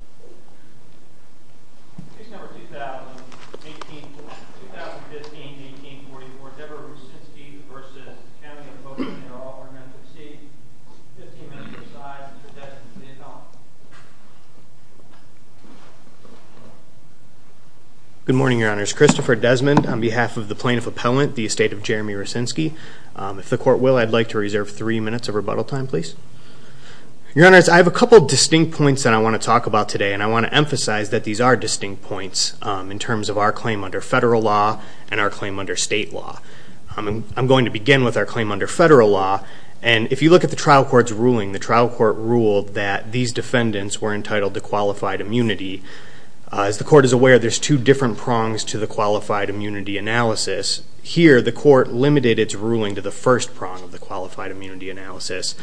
are all ordered to recede. 15 minutes to decide. Mr. Desmond, stand by. Good morning, Your Honors. Christopher Desmond on behalf of the Plaintiff Appellant, the Estate of Jeremy Rucinski. If the Court will, I'd like to reserve three minutes of rebuttal time, please. Your Honors, I have a couple distinct points that I want to talk about today, and I want to emphasize that these are distinct points in terms of our claim under federal law and our claim under state law. I'm going to begin with our claim under federal law, and if you look at the trial court's ruling, the trial court ruled that these defendants were entitled to qualified immunity. As the Court is aware, there's two different prongs to the qualified immunity analysis. Here, the Court limited its ruling to the first prong of the qualified immunity analysis.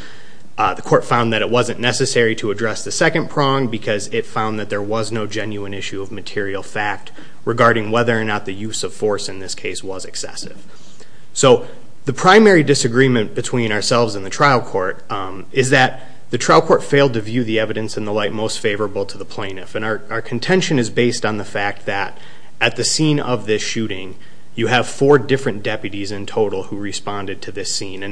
The Court found that it found that there was no genuine issue of material fact regarding whether or not the use of force in this case was excessive. The primary disagreement between ourselves and the trial court is that the trial court failed to view the evidence in the light most favorable to the plaintiff. Our contention is based on the fact that at the scene of this shooting, you have four different deputies in total who responded to this scene.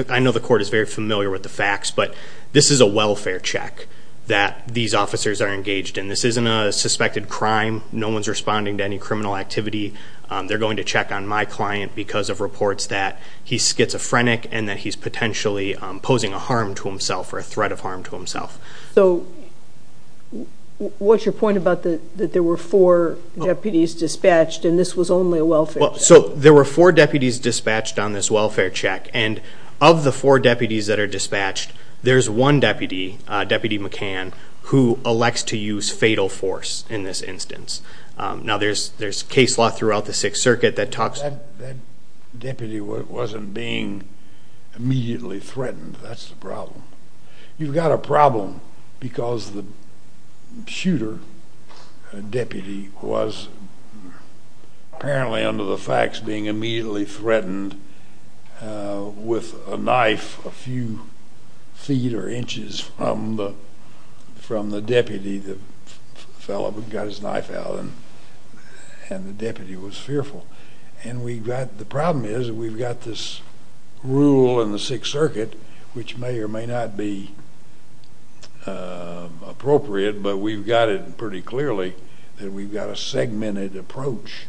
I know the Court is very familiar with the facts, but this is a welfare check that these officers are engaged in. This isn't a suspected crime. No one's responding to any criminal activity. They're going to check on my client because of reports that he's schizophrenic and that he's potentially posing a harm to himself or a threat of harm to himself. So what's your point about that there were four deputies dispatched and this was only a welfare check? So there were four deputies dispatched on this welfare check, and of the four deputies that are dispatched, there's one deputy, Deputy McCann, who elects to use fatal force in this instance. Now there's case law throughout the Sixth Circuit that talks... That deputy wasn't being immediately threatened. That's the problem. You've got a problem because the shooter, a deputy, was apparently under the facts being immediately threatened with a knife a few feet or inches from the deputy, the fellow who got his knife out, and the deputy was fearful. And the problem is we've got this rule in the Sixth Circuit which may or may not be appropriate, but we've got it pretty clearly that we've got a segmented approach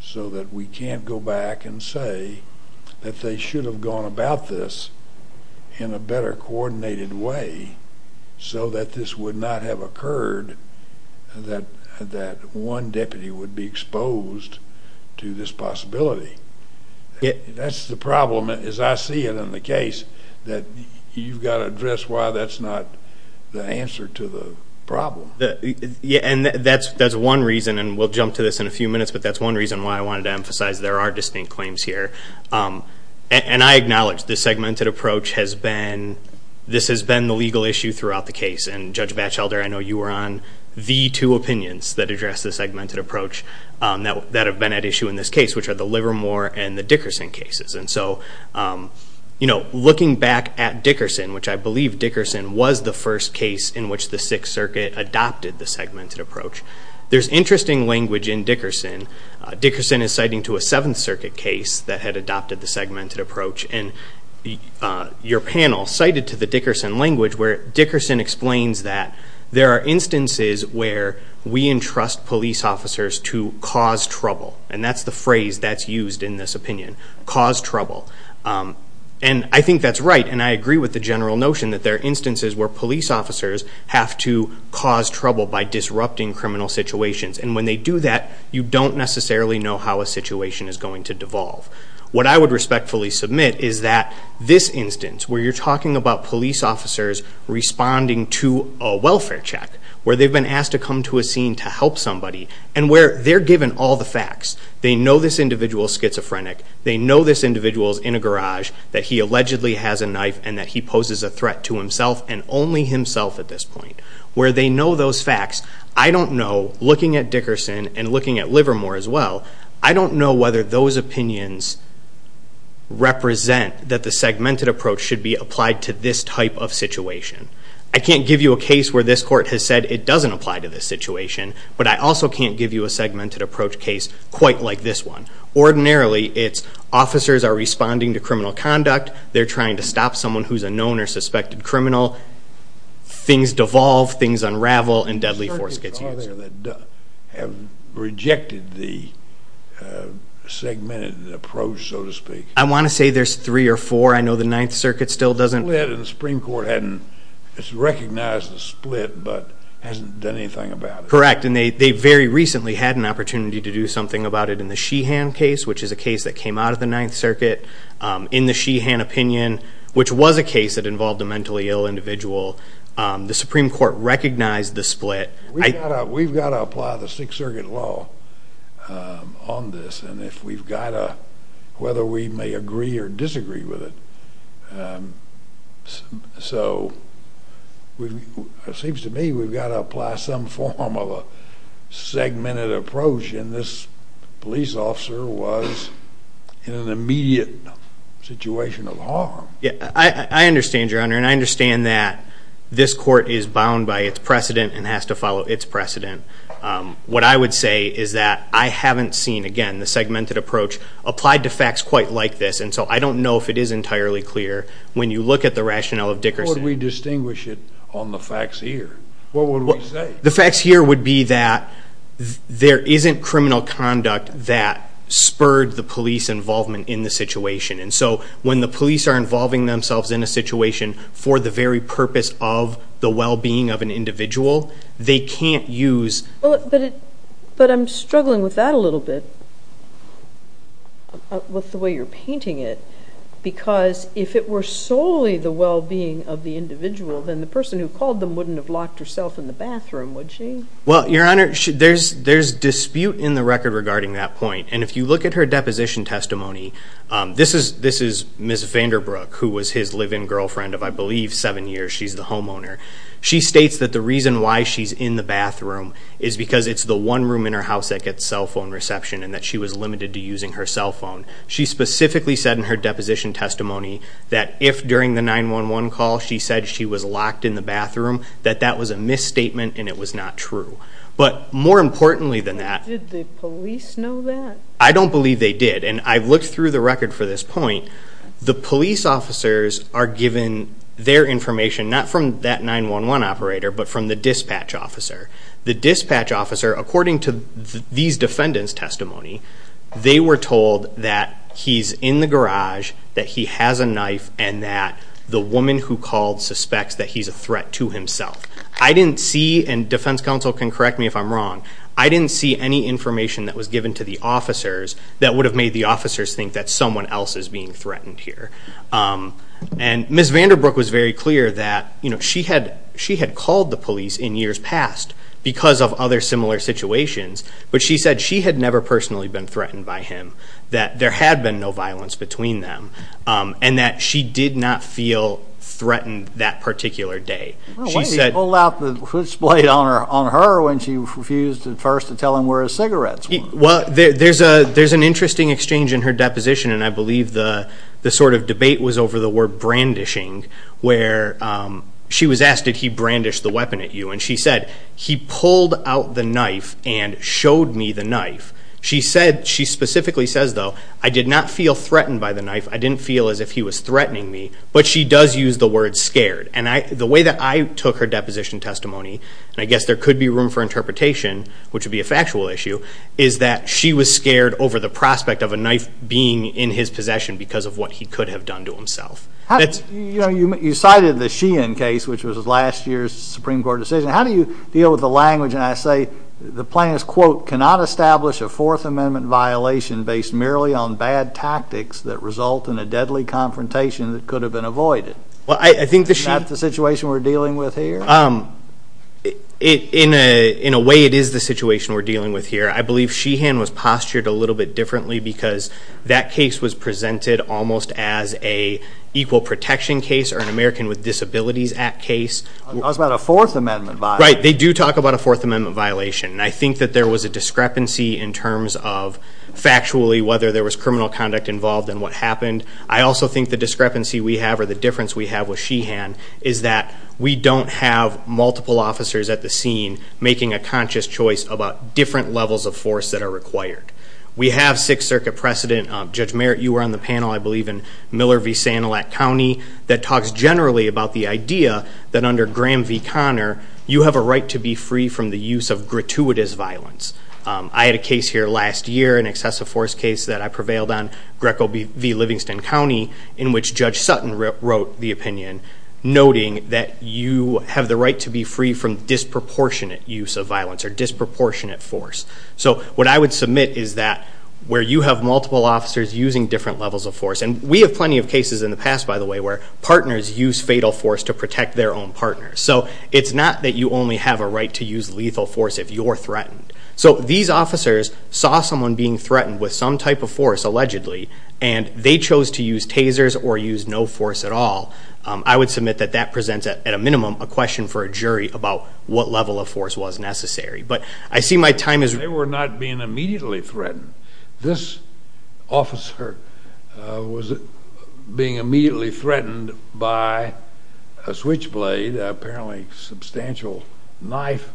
so that we can't go back and say that they should have gone about this in a better coordinated way so that this would not have occurred, that one deputy would be exposed to this possibility. That's the problem as I see it in the case that you've got to address why that's not the answer to the problem. And that's one reason, and we'll jump to this in a few minutes, but that's one reason why I wanted to emphasize there are distinct claims here. And I acknowledge the segmented approach has been, this has been the legal issue throughout the case. And Judge Batchelder, I know you were on the two opinions that address the segmented approach that have been at issue in this case, which are the Livermore and the Dickerson cases. And so looking back at Dickerson, which I believe Dickerson was the first case in which the Sixth Circuit adopted the segmented approach, there's interesting language in Dickerson. Dickerson is citing to a Seventh Circuit case that had adopted the segmented approach. And your panel cited to the Dickerson language where Dickerson explains that there are instances where we entrust police officers to cause trouble. And that's the phrase that's used in this case with the general notion that there are instances where police officers have to cause trouble by disrupting criminal situations. And when they do that, you don't necessarily know how a situation is going to devolve. What I would respectfully submit is that this instance where you're talking about police officers responding to a welfare check, where they've been asked to come to a scene to help somebody, and where they're given all the facts. They know this individual is schizophrenic. They know this individual is in a garage, that he allegedly has a knife, and that he poses a threat to himself and only himself at this point. Where they know those facts, I don't know, looking at Dickerson and looking at Livermore as well, I don't know whether those opinions represent that the segmented approach should be applied to this type of situation. I can't give you a case where this court has said it doesn't apply to this situation, but I also can't give you a segmented approach to a case quite like this one. Ordinarily, it's officers are responding to criminal conduct, they're trying to stop someone who's a known or suspected criminal, things devolve, things unravel, and deadly force gets used. There are circuits out there that have rejected the segmented approach, so to speak. I want to say there's three or four. I know the Ninth Circuit still doesn't... Split, and the Supreme Court hasn't recognized the split but hasn't done anything about it. Correct, and they very recently had an opportunity to do something about it in the Sheehan case, which is a case that came out of the Ninth Circuit. In the Sheehan opinion, which was a case that involved a mentally ill individual, the Supreme Court recognized the split. We've got to apply the Sixth Circuit law on this, and if we've got to, whether we may agree or disagree with it. So, it seems to me we've got to apply some form of a segmented approach, and this police officer was in an immediate situation of harm. I understand, Your Honor, and I understand that this court is bound by its precedent and has to follow its precedent. What I would say is that I haven't seen, again, the segmented approach applied to facts quite like this, and so I don't know if it is entirely clear when you look at the rationale of Dickerson. How would we distinguish it on the facts here? What would we say? The facts here would be that there isn't criminal conduct that spurred the police involvement in the situation, and so when the police are involving themselves in a situation for the very purpose of the well-being of an individual, they can't use... But I'm struggling with that a little bit, with the way you're painting it, because if it were solely the well-being of the individual, then the person who called them wouldn't have locked herself in the bathroom, would she? Well, Your Honor, there's dispute in the record regarding that point, and if you look at her deposition testimony, this is Ms. Vanderbrook, who was his live-in girlfriend of, I believe, seven years. She's the homeowner. She states that the reason why she's in the bathroom is because it's the one room in her house that gets cell phone reception and that she was limited to using her cell phone. She specifically said in her deposition testimony that if during the 911 call she said she was locked in the bathroom, that that was a misstatement and it was not true. But more importantly than that... Did the police know that? I don't believe they did, and I've looked through the record for this point. The police officers are given their information, not from that 911 operator, but from the dispatch officer. The dispatch officer, according to these defendants' testimony, they were told that he's in the garage, that he has a knife, and that the woman who called suspects that he's a threat to himself. I didn't see, and defense counsel can correct me if I'm wrong, I didn't see any information that was given to the officers that would have made the officers think that someone else is being threatened here. And Ms. Vanderbrook was very clear that she had called the police in years past because of other similar situations, but she said she had never personally been threatened by him, that there had been no violence between them, and that she did not feel threatened that particular day. Why did he pull out the chutzpah on her when she refused at first to tell him where his cigarettes were? Well, there's an interesting exchange in her deposition, and I believe the sort of debate was over the word brandishing, where she was asked, did he brandish the weapon at you? And she said, he pulled out the knife and showed me the knife. She specifically says, though, I did not feel threatened by the knife, I didn't feel as if he was threatening me, but she does use the word scared. And the way that I took her deposition testimony, and I guess there could be room for interpretation, which would be a factual issue, is that she was scared over the prospect of a knife being in his possession because of what he could have done to himself. You cited the Sheehan case, which was last year's Supreme Court decision. How do you deal with the language, and I say the plaintiff's quote, cannot establish a Fourth Amendment violation based merely on bad tactics that result in a deadly confrontation that could have been avoided? Is that the situation we're dealing with here? In a way, it is the situation we're dealing with here. I believe Sheehan was postured a little bit as an equal protection case or an American with Disabilities Act case. It was about a Fourth Amendment violation. Right. They do talk about a Fourth Amendment violation. And I think that there was a discrepancy in terms of factually whether there was criminal conduct involved in what happened. I also think the discrepancy we have or the difference we have with Sheehan is that we don't have multiple officers at the scene making a conscious choice about different levels of force that are required. We have Sixth Circuit precedent. Judge Merritt, you were on the panel, I believe, in Miller v. Sanilac County that talks generally about the idea that under Graham v. Conner, you have a right to be free from the use of gratuitous violence. I had a case here last year, an excessive force case that I prevailed on, Greco v. Livingston County, in which Judge Sutton wrote the opinion noting that you have the right to be free from disproportionate use of violence or disproportionate force. So what I would submit is that where you have multiple officers using different levels of force, and we have plenty of cases in the past, by the way, where partners use fatal force to protect their own partners. So it's not that you only have a right to use lethal force if you're threatened. So these officers saw someone being threatened with some type of force, allegedly, and they chose to use tasers or use no force at all. I would submit that that presents, at a minimum, a question for a jury about what level of force was necessary. But I see my time as... threatened. This officer was being immediately threatened by a switchblade, an apparently substantial knife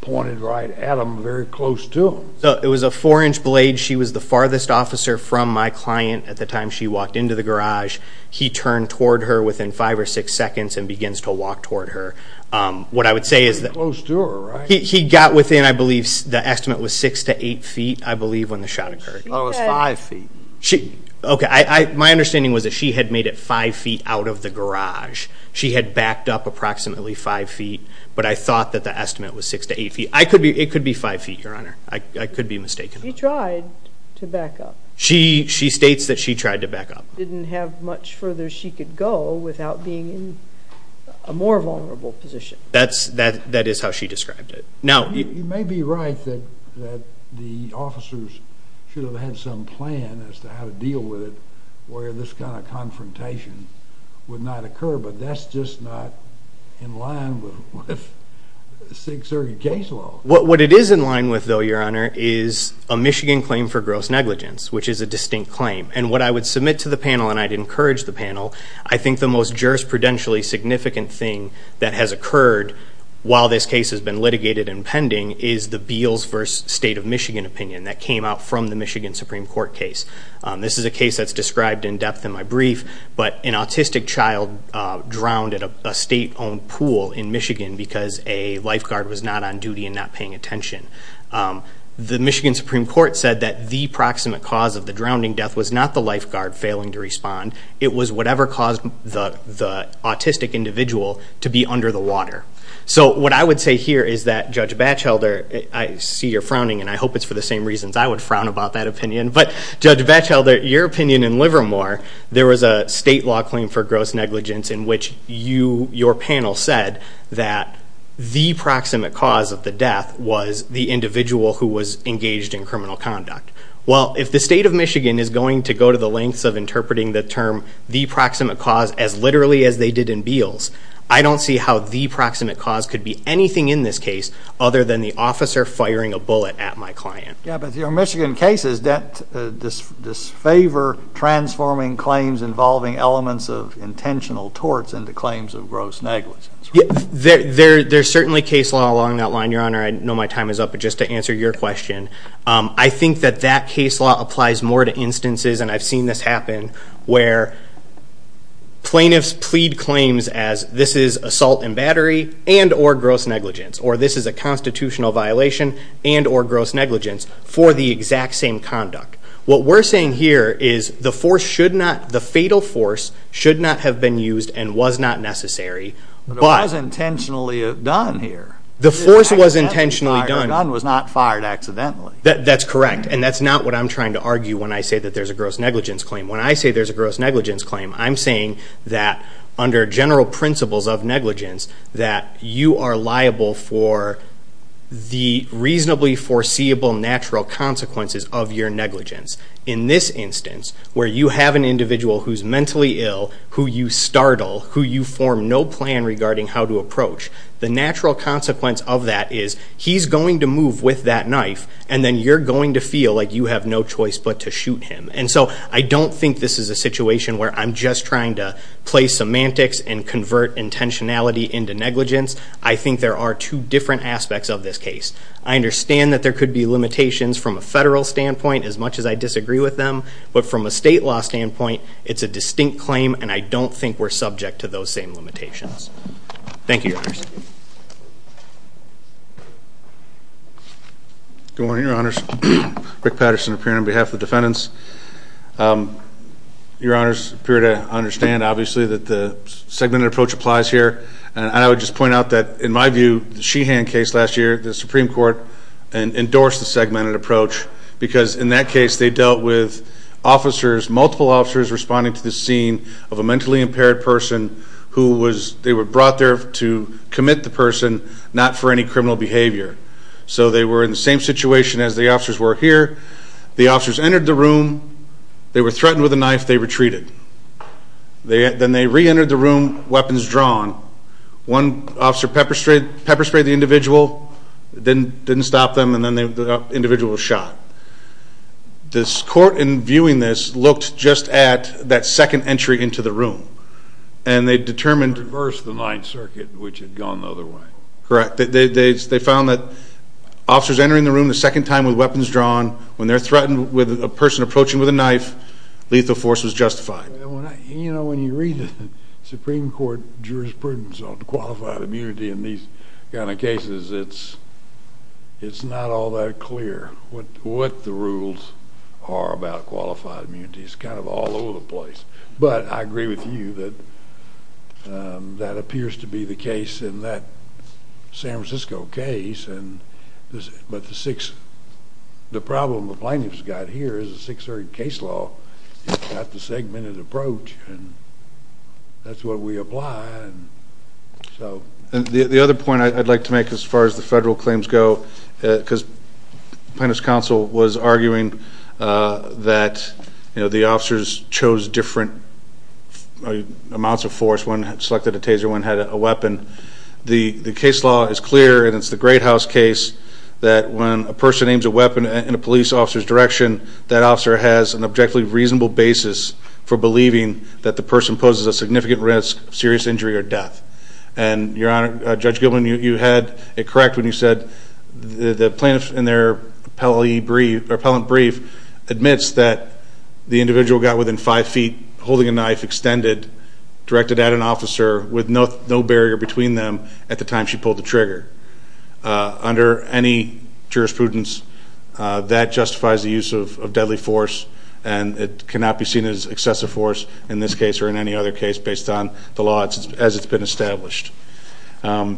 pointed right at him, very close to him. So it was a four-inch blade. She was the farthest officer from my client at the time she walked into the garage. He turned toward her within five or six seconds and begins to walk toward her. What I would say is that... Close to her, right? He got within, I believe, the estimate was six to eight feet, I believe, when the shot occurred. Oh, it was five feet. Okay. My understanding was that she had made it five feet out of the garage. She had backed up approximately five feet, but I thought that the estimate was six to eight feet. I could be... It could be five feet, Your Honor. I could be mistaken. She tried to back up. She states that she tried to back up. Didn't have much further she could go without being in a more vulnerable position. That is how she described it. Now... You may be right that the officers should have had some plan as to how to deal with it where this kind of confrontation would not occur, but that's just not in line with the Sixth Circuit case law. What it is in line with, though, Your Honor, is a Michigan claim for gross negligence, which is a distinct claim. And what I would submit to the panel, and I'd encourage the panel, I think the most jurisprudentially significant thing that has occurred while this case has been litigated and pending is the Beals v. State of Michigan opinion that came out from the Michigan Supreme Court case. This is a case that's described in depth in my brief, but an autistic child drowned at a state owned pool in Michigan because a lifeguard was not on duty and not paying attention. The Michigan Supreme Court said that the proximate cause of the drowning death was not the lifeguard failing to respond. It was whatever caused the autistic individual to be under the water. So what I would say here is that, Judge Batchelder, I see you're frowning, and I hope it's for the same reasons I would frown about that opinion. But, Judge Batchelder, your opinion in Livermore, there was a state law claim for gross negligence in which your panel said that the proximate cause of the death was the individual who was engaged in criminal conduct. Well, if the State of Michigan is going to go to the lengths of interpreting the term the proximate cause as literally as they did in Beals, I don't see how the proximate cause could be anything in this case other than the officer firing a bullet at my client. Yeah, but your Michigan case, does that disfavor transforming claims involving elements of intentional torts into claims of gross negligence? Yeah, there's certainly case law along that line, Your Honor. I know my time is up, but just to answer your question, I think that that case law applies more to instances, and I've seen this happen, where plaintiffs plead claims as this is assault and battery and or gross negligence, or this is a constitutional violation and or gross negligence for the exact same conduct. What we're saying here is the force should not, the fatal force should not have been used and was not necessary. But it was intentionally done here. The force was intentionally done. The gun was not fired accidentally. That's correct. And that's not what I'm trying to argue when I say that there's a gross negligence claim. When I say there's a gross negligence claim, I'm saying that under general principles of negligence, that you are liable for the reasonably foreseeable natural consequences of your negligence. In this instance, where you have an individual who's mentally ill, who you startle, who you he's going to move with that knife, and then you're going to feel like you have no choice but to shoot him. And so I don't think this is a situation where I'm just trying to play semantics and convert intentionality into negligence. I think there are two different aspects of this case. I understand that there could be limitations from a federal standpoint, as much as I disagree with them. But from a state law standpoint, it's a distinct claim, and I don't think we're subject to those same limitations. Thank you, Your Honors. Good morning, Your Honors. Rick Patterson, appearing on behalf of the defendants. Your Honors, appear to understand, obviously, that the segmented approach applies here. And I would just point out that, in my view, the Sheehan case last year, the Supreme Court endorsed the segmented approach. Because in that case, they dealt with officers, multiple officers, responding to the scene of a mentally impaired person who was, they were brought there to commit the person, not for any criminal behavior. So they were in the same situation as the officers were here. The officers entered the room. They were threatened with a knife. They retreated. Then they reentered the room, weapons drawn. One officer pepper sprayed the individual, didn't stop them, and then the individual was shot. This court, in viewing this, looked just at that second entry into the room. And they determined... It reversed the Ninth Circuit, which had gone the other way. Correct. They found that officers entering the room the second time with weapons drawn, when they're threatened with a person approaching with a knife, lethal force was justified. You know, when you read the Supreme Court jurisprudence on qualified immunity in these kind of cases, it's not all that clear what the rules are about qualified immunity. It's kind of all over the place. But I agree with you that that appears to be the case in that San Francisco case. But the problem the plaintiff's got here is the Sixth Circuit case law. It's got the segmented approach. And that's what we apply. And so the other point I'd like to make as far as the federal claims go, because plaintiff's counsel was arguing that, you know, the officers chose different amounts of force. One selected a taser, one had a weapon. The case law is clear, and it's the Great House case, that when a person aims a weapon in a police officer's direction, that officer has an objectively reasonable basis for believing that the person poses a significant risk of serious injury or death. And your Honor, Judge Gilman, you had it correct when you said the plaintiff in their appellate brief admits that the individual got within five feet, holding a knife, extended, directed at an officer with no barrier between them at the time she pulled the trigger. Under any jurisprudence, that justifies the use of deadly force, and it cannot be seen as excessive force in this case or in any other case based on the law as it's been established. I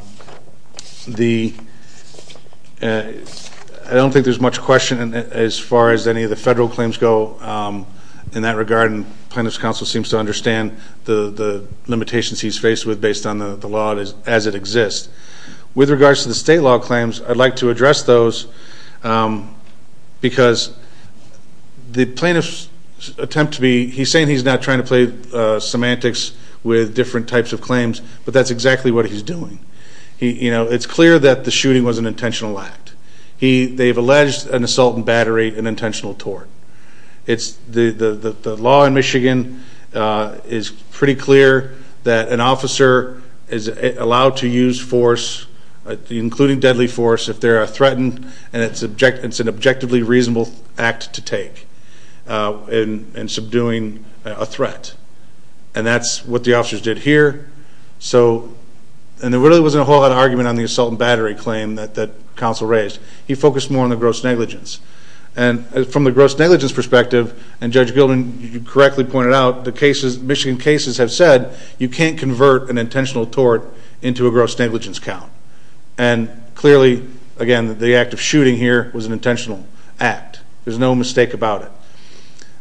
don't think there's much question as far as any of the federal claims go in that regard, and plaintiff's counsel seems to understand the limitations he's faced with based on the law as it exists. With regards to the state law claims, I'd like to address those because the plaintiffs attempt to be... He's saying he's not trying to play semantics with different types of claims, but that's exactly what he's doing. It's clear that the shooting was an intentional act. They've alleged an assault and battery, an intentional tort. The law in Michigan is pretty clear that an officer is allowed to use force, including deadly force, if they are threatened, and it's an objectively reasonable act to take. And subduing a threat. And that's what the officers did here. And there really wasn't a whole lot of argument on the assault and battery claim that counsel raised. He focused more on the gross negligence. And from the gross negligence perspective, and Judge Gilman, you correctly pointed out, Michigan cases have said you can't convert an intentional tort into a gross negligence count. And clearly, again, the act of shooting here was an intentional act. There's no mistake about it.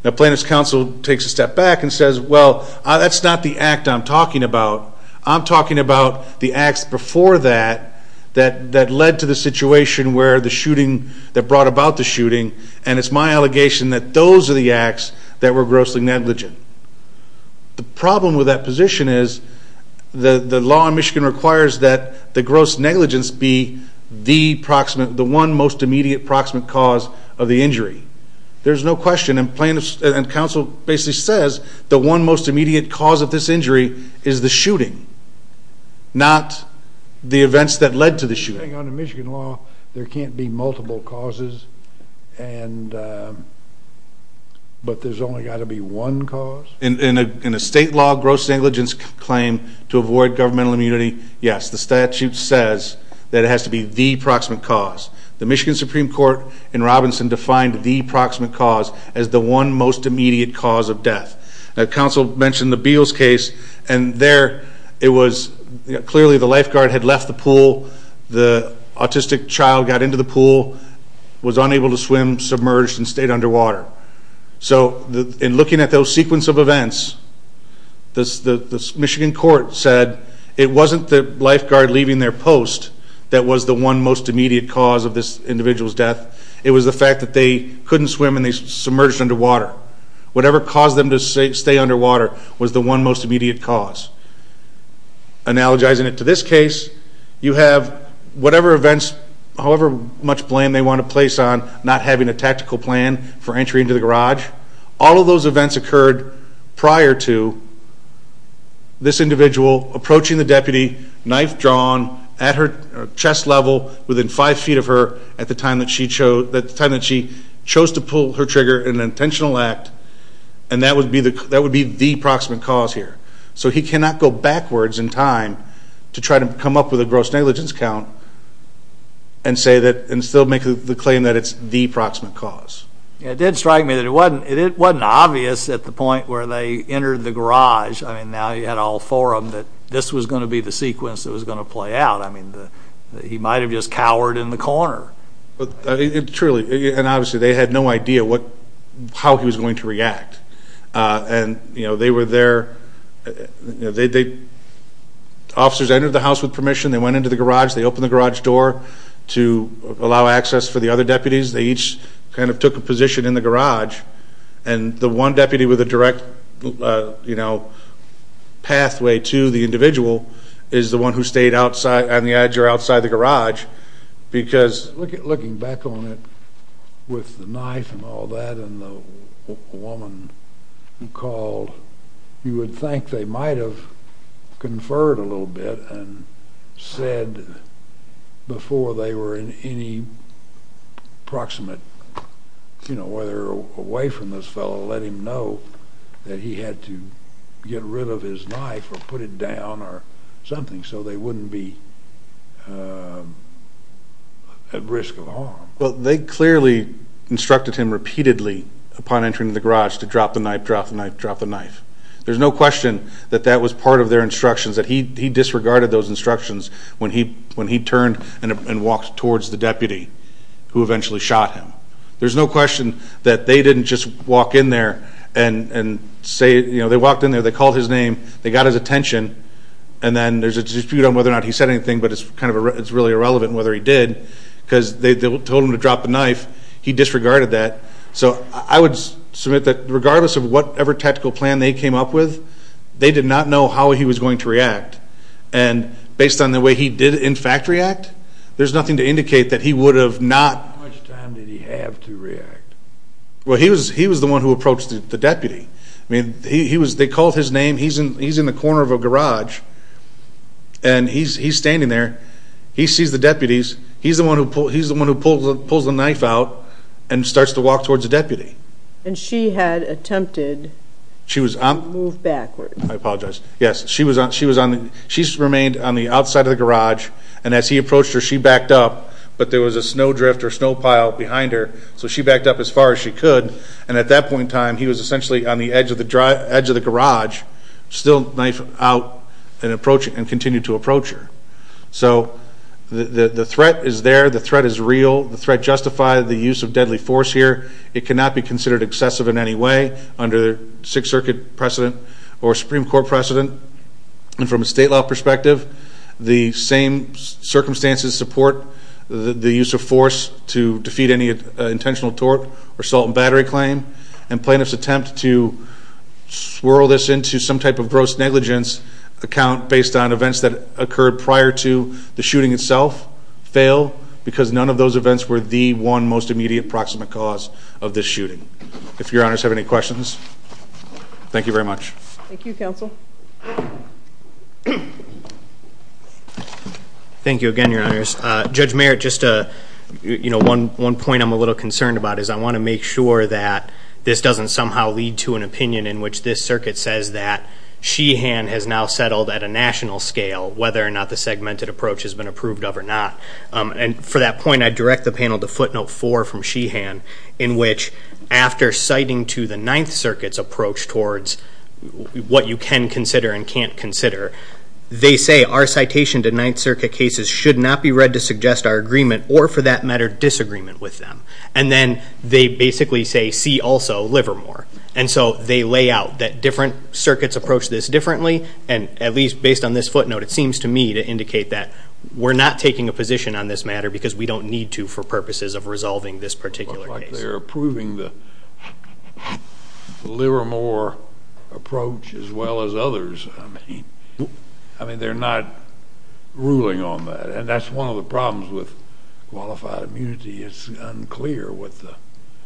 The plaintiff's counsel takes a step back and says, well, that's not the act I'm talking about. I'm talking about the acts before that, that led to the situation where the shooting, that brought about the shooting. And it's my allegation that those are the acts that were grossly negligent. The problem with that position is the law in Michigan requires that the gross negligence be the one most immediate proximate cause of the injury. There's no question. And counsel basically says the one most immediate cause of this injury is the shooting, not the events that led to the shooting. In Michigan law, there can't be multiple causes. But there's only got to be one cause? In a state law, gross negligence claim to avoid governmental immunity, yes. The statute says that it has to be the proximate cause. The Michigan Supreme Court in Robinson defined the proximate cause as the one most immediate cause of death. Now, counsel mentioned the Beals case. And there, it was clearly the lifeguard had left the pool. The autistic child got into the pool, was unable to swim, submerged, and stayed underwater. So in looking at those sequence of events, the Michigan court said it wasn't the lifeguard leaving their post that was the one most immediate cause of this individual's death. It was the fact that they couldn't swim and they submerged underwater. Whatever caused them to stay underwater was the one most immediate cause. Analogizing it to this case, you have whatever events, however much blame they want to place on not having a tactical plan for entry into the garage. All of those events occurred prior to this individual approaching the deputy, knife drawn at her chest level, within five feet of her, at the time that she chose to pull her trigger in an intentional act. And that would be the proximate cause here. So he cannot go backwards in time to try to come up with a gross negligence count and still make the claim that it's the proximate cause. It did strike me that it wasn't obvious at the point where they entered the garage, I mean, now you had all four of them, that this was going to be the sequence that was going to play out. I mean, he might have just cowered in the corner. Truly, and obviously they had no idea how he was going to react. And, you know, they were there, officers entered the house with permission, they went into the garage, they opened the garage door to allow access for the other deputies. They each kind of took a position in the garage. And the one deputy with a direct, you know, pathway to the individual is the one who stayed outside, on the edge or outside the garage. Because looking back on it with the knife and all that and the woman who called, you would think they might have conferred a little bit and said before they were in any proximate, you know, whether away from this fellow, let him know that he had to get rid of his knife or put it down or something, so they wouldn't be at risk of harm. Well, they clearly instructed him repeatedly upon entering the garage to drop the knife, drop the knife, drop the knife. There's no question that that was part of their instructions, that he disregarded those instructions when he turned and walked towards the deputy who eventually shot him. There's no question that they didn't just walk in there and say, you know, they walked in there, they called his name, they got his attention, and then there's a dispute on whether or not he said anything, but it's kind of really irrelevant whether he did, because they told him to drop the knife. He disregarded that. So I would submit that regardless of whatever tactical plan they came up with, they did not know how he was going to react, and based on the way he did in fact react, there's nothing to indicate that he would have not... How much time did he have to react? Well, he was the one who approached the deputy. I mean, they called his name, he's in the corner of a garage, and he's standing there, he sees the deputies, he's the one who pulls the knife out and starts to walk towards the deputy. And she had attempted to move backwards? I apologize. Yes, she remained on the outside of the garage, and as he approached her, she backed up, but there was a snow drift or snow pile behind her, so she backed up as far as she could, and at that point in time, he was essentially on the edge of the garage, still knife out and continued to approach her. So the threat is there, the threat is real, the threat justified the use of deadly force here. It cannot be considered excessive in any way under Sixth Circuit precedent or Supreme Court precedent. And from a state law perspective, the same circumstances support the use of force to defeat any intentional tort or assault and battery claim, and plaintiffs attempt to swirl this into some type of gross negligence account based on events that occurred prior to the shooting itself fail because none of those events were the one most immediate proximate cause. This shooting. If your honors have any questions, thank you very much. Thank you, counsel. Thank you again, your honors. Judge Merritt, just one point I'm a little concerned about is I want to make sure that this doesn't somehow lead to an opinion in which this circuit says that Sheehan has now settled at a national scale, whether or not the segmented approach has been approved of or not. And for that point, I direct the panel to footnote four from Sheehan in which after citing to the Ninth Circuit's approach towards what you can consider and can't consider, they say our citation to Ninth Circuit cases should not be read to suggest our agreement or for that matter, disagreement with them. And then they basically say, see also Livermore. And so they lay out that different circuits approach this differently. And at least based on this footnote, it seems to me to indicate that we're not taking a position on this matter because we don't need to for purposes of resolving this particular case. They're approving the Livermore approach as well as others. I mean, they're not ruling on that. And that's one of the problems with qualified immunity is unclear with the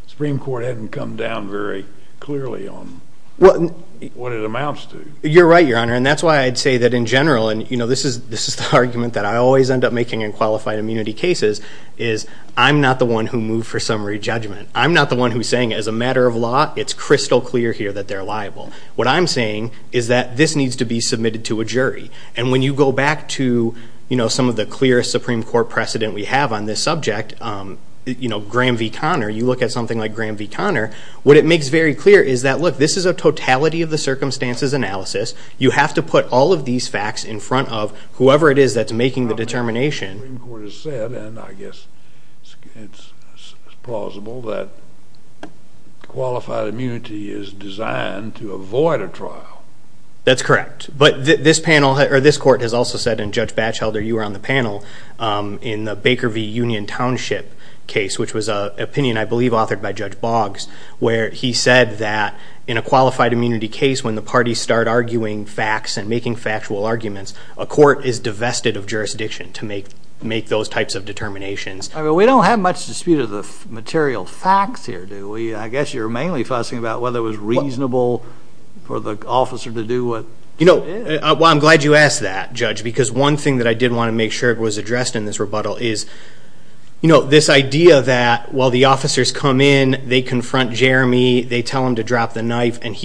Supreme Court hadn't come down very clearly on what it amounts to. You're right, your honor. And that's why I'd say that in general, and this is the argument that I always end up making in qualified immunity cases, is I'm not the one who moved for summary judgment. I'm not the one who's saying as a matter of law, it's crystal clear here that they're liable. What I'm saying is that this needs to be submitted to a jury. And when you go back to, you know, some of the clearest Supreme Court precedent we have on this subject, you know, Graham v. Connor, you look at something like Graham v. Connor, what it makes very clear is that, look, this is a totality of the circumstances analysis. You have to put all of these facts in front of whoever it is that's making the determination. The Supreme Court has said, and I guess it's plausible, that qualified immunity is designed to avoid a trial. That's correct. But this panel or this court has also said, and Judge Batchelder, you were on the panel, in the Baker v. Union Township case, which was an opinion, I believe, authored by Judge Boggs, where he said that in a qualified immunity case, when the parties start arguing facts and making factual arguments, a court is divested of jurisdiction to make those types of determinations. I mean, we don't have much dispute of the material facts here, do we? I guess you're mainly fussing about whether it was reasonable for the officer to do what it is. You know, well, I'm glad you asked that, Judge, because one thing that I did want to make sure it was addressed in this rebuttal is, you know, this idea that while the officers come in, and he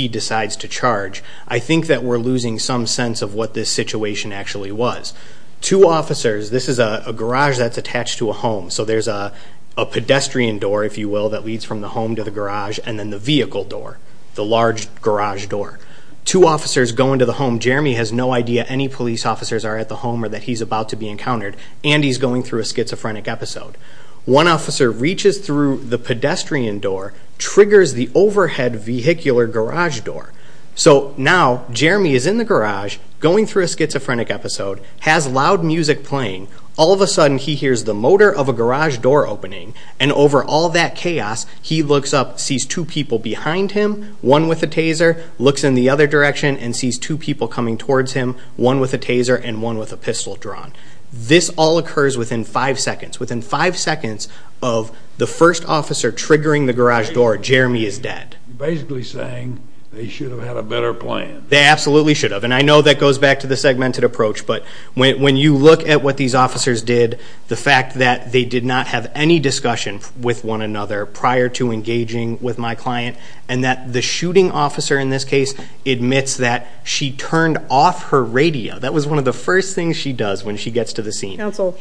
decides to charge. I think that we're losing some sense of what this situation actually was. Two officers, this is a garage that's attached to a home, so there's a pedestrian door, if you will, that leads from the home to the garage, and then the vehicle door, the large garage door. Two officers go into the home. Jeremy has no idea any police officers are at the home or that he's about to be encountered, and he's going through a schizophrenic episode. One officer reaches through the pedestrian door, triggers the overhead vehicular garage door. So now, Jeremy is in the garage, going through a schizophrenic episode, has loud music playing. All of a sudden, he hears the motor of a garage door opening, and over all that chaos, he looks up, sees two people behind him, one with a taser, looks in the other direction, and sees two people coming towards him, one with a taser and one with a pistol drawn. This all occurs within five seconds. Within five seconds of the first officer triggering the garage door, Jeremy is dead. Basically saying they should have had a better plan. They absolutely should have, and I know that goes back to the segmented approach, but when you look at what these officers did, the fact that they did not have any discussion with one another prior to engaging with my client, and that the shooting officer in this case admits that she turned off her radio. That was one of the first things she does when she gets to the scene. Counsel,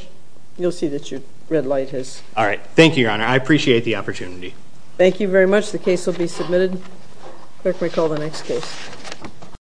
you'll see that your red light has... All right, thank you, Your Honor. I appreciate the opportunity. Thank you very much. The case will be submitted. Clerk may call the next case.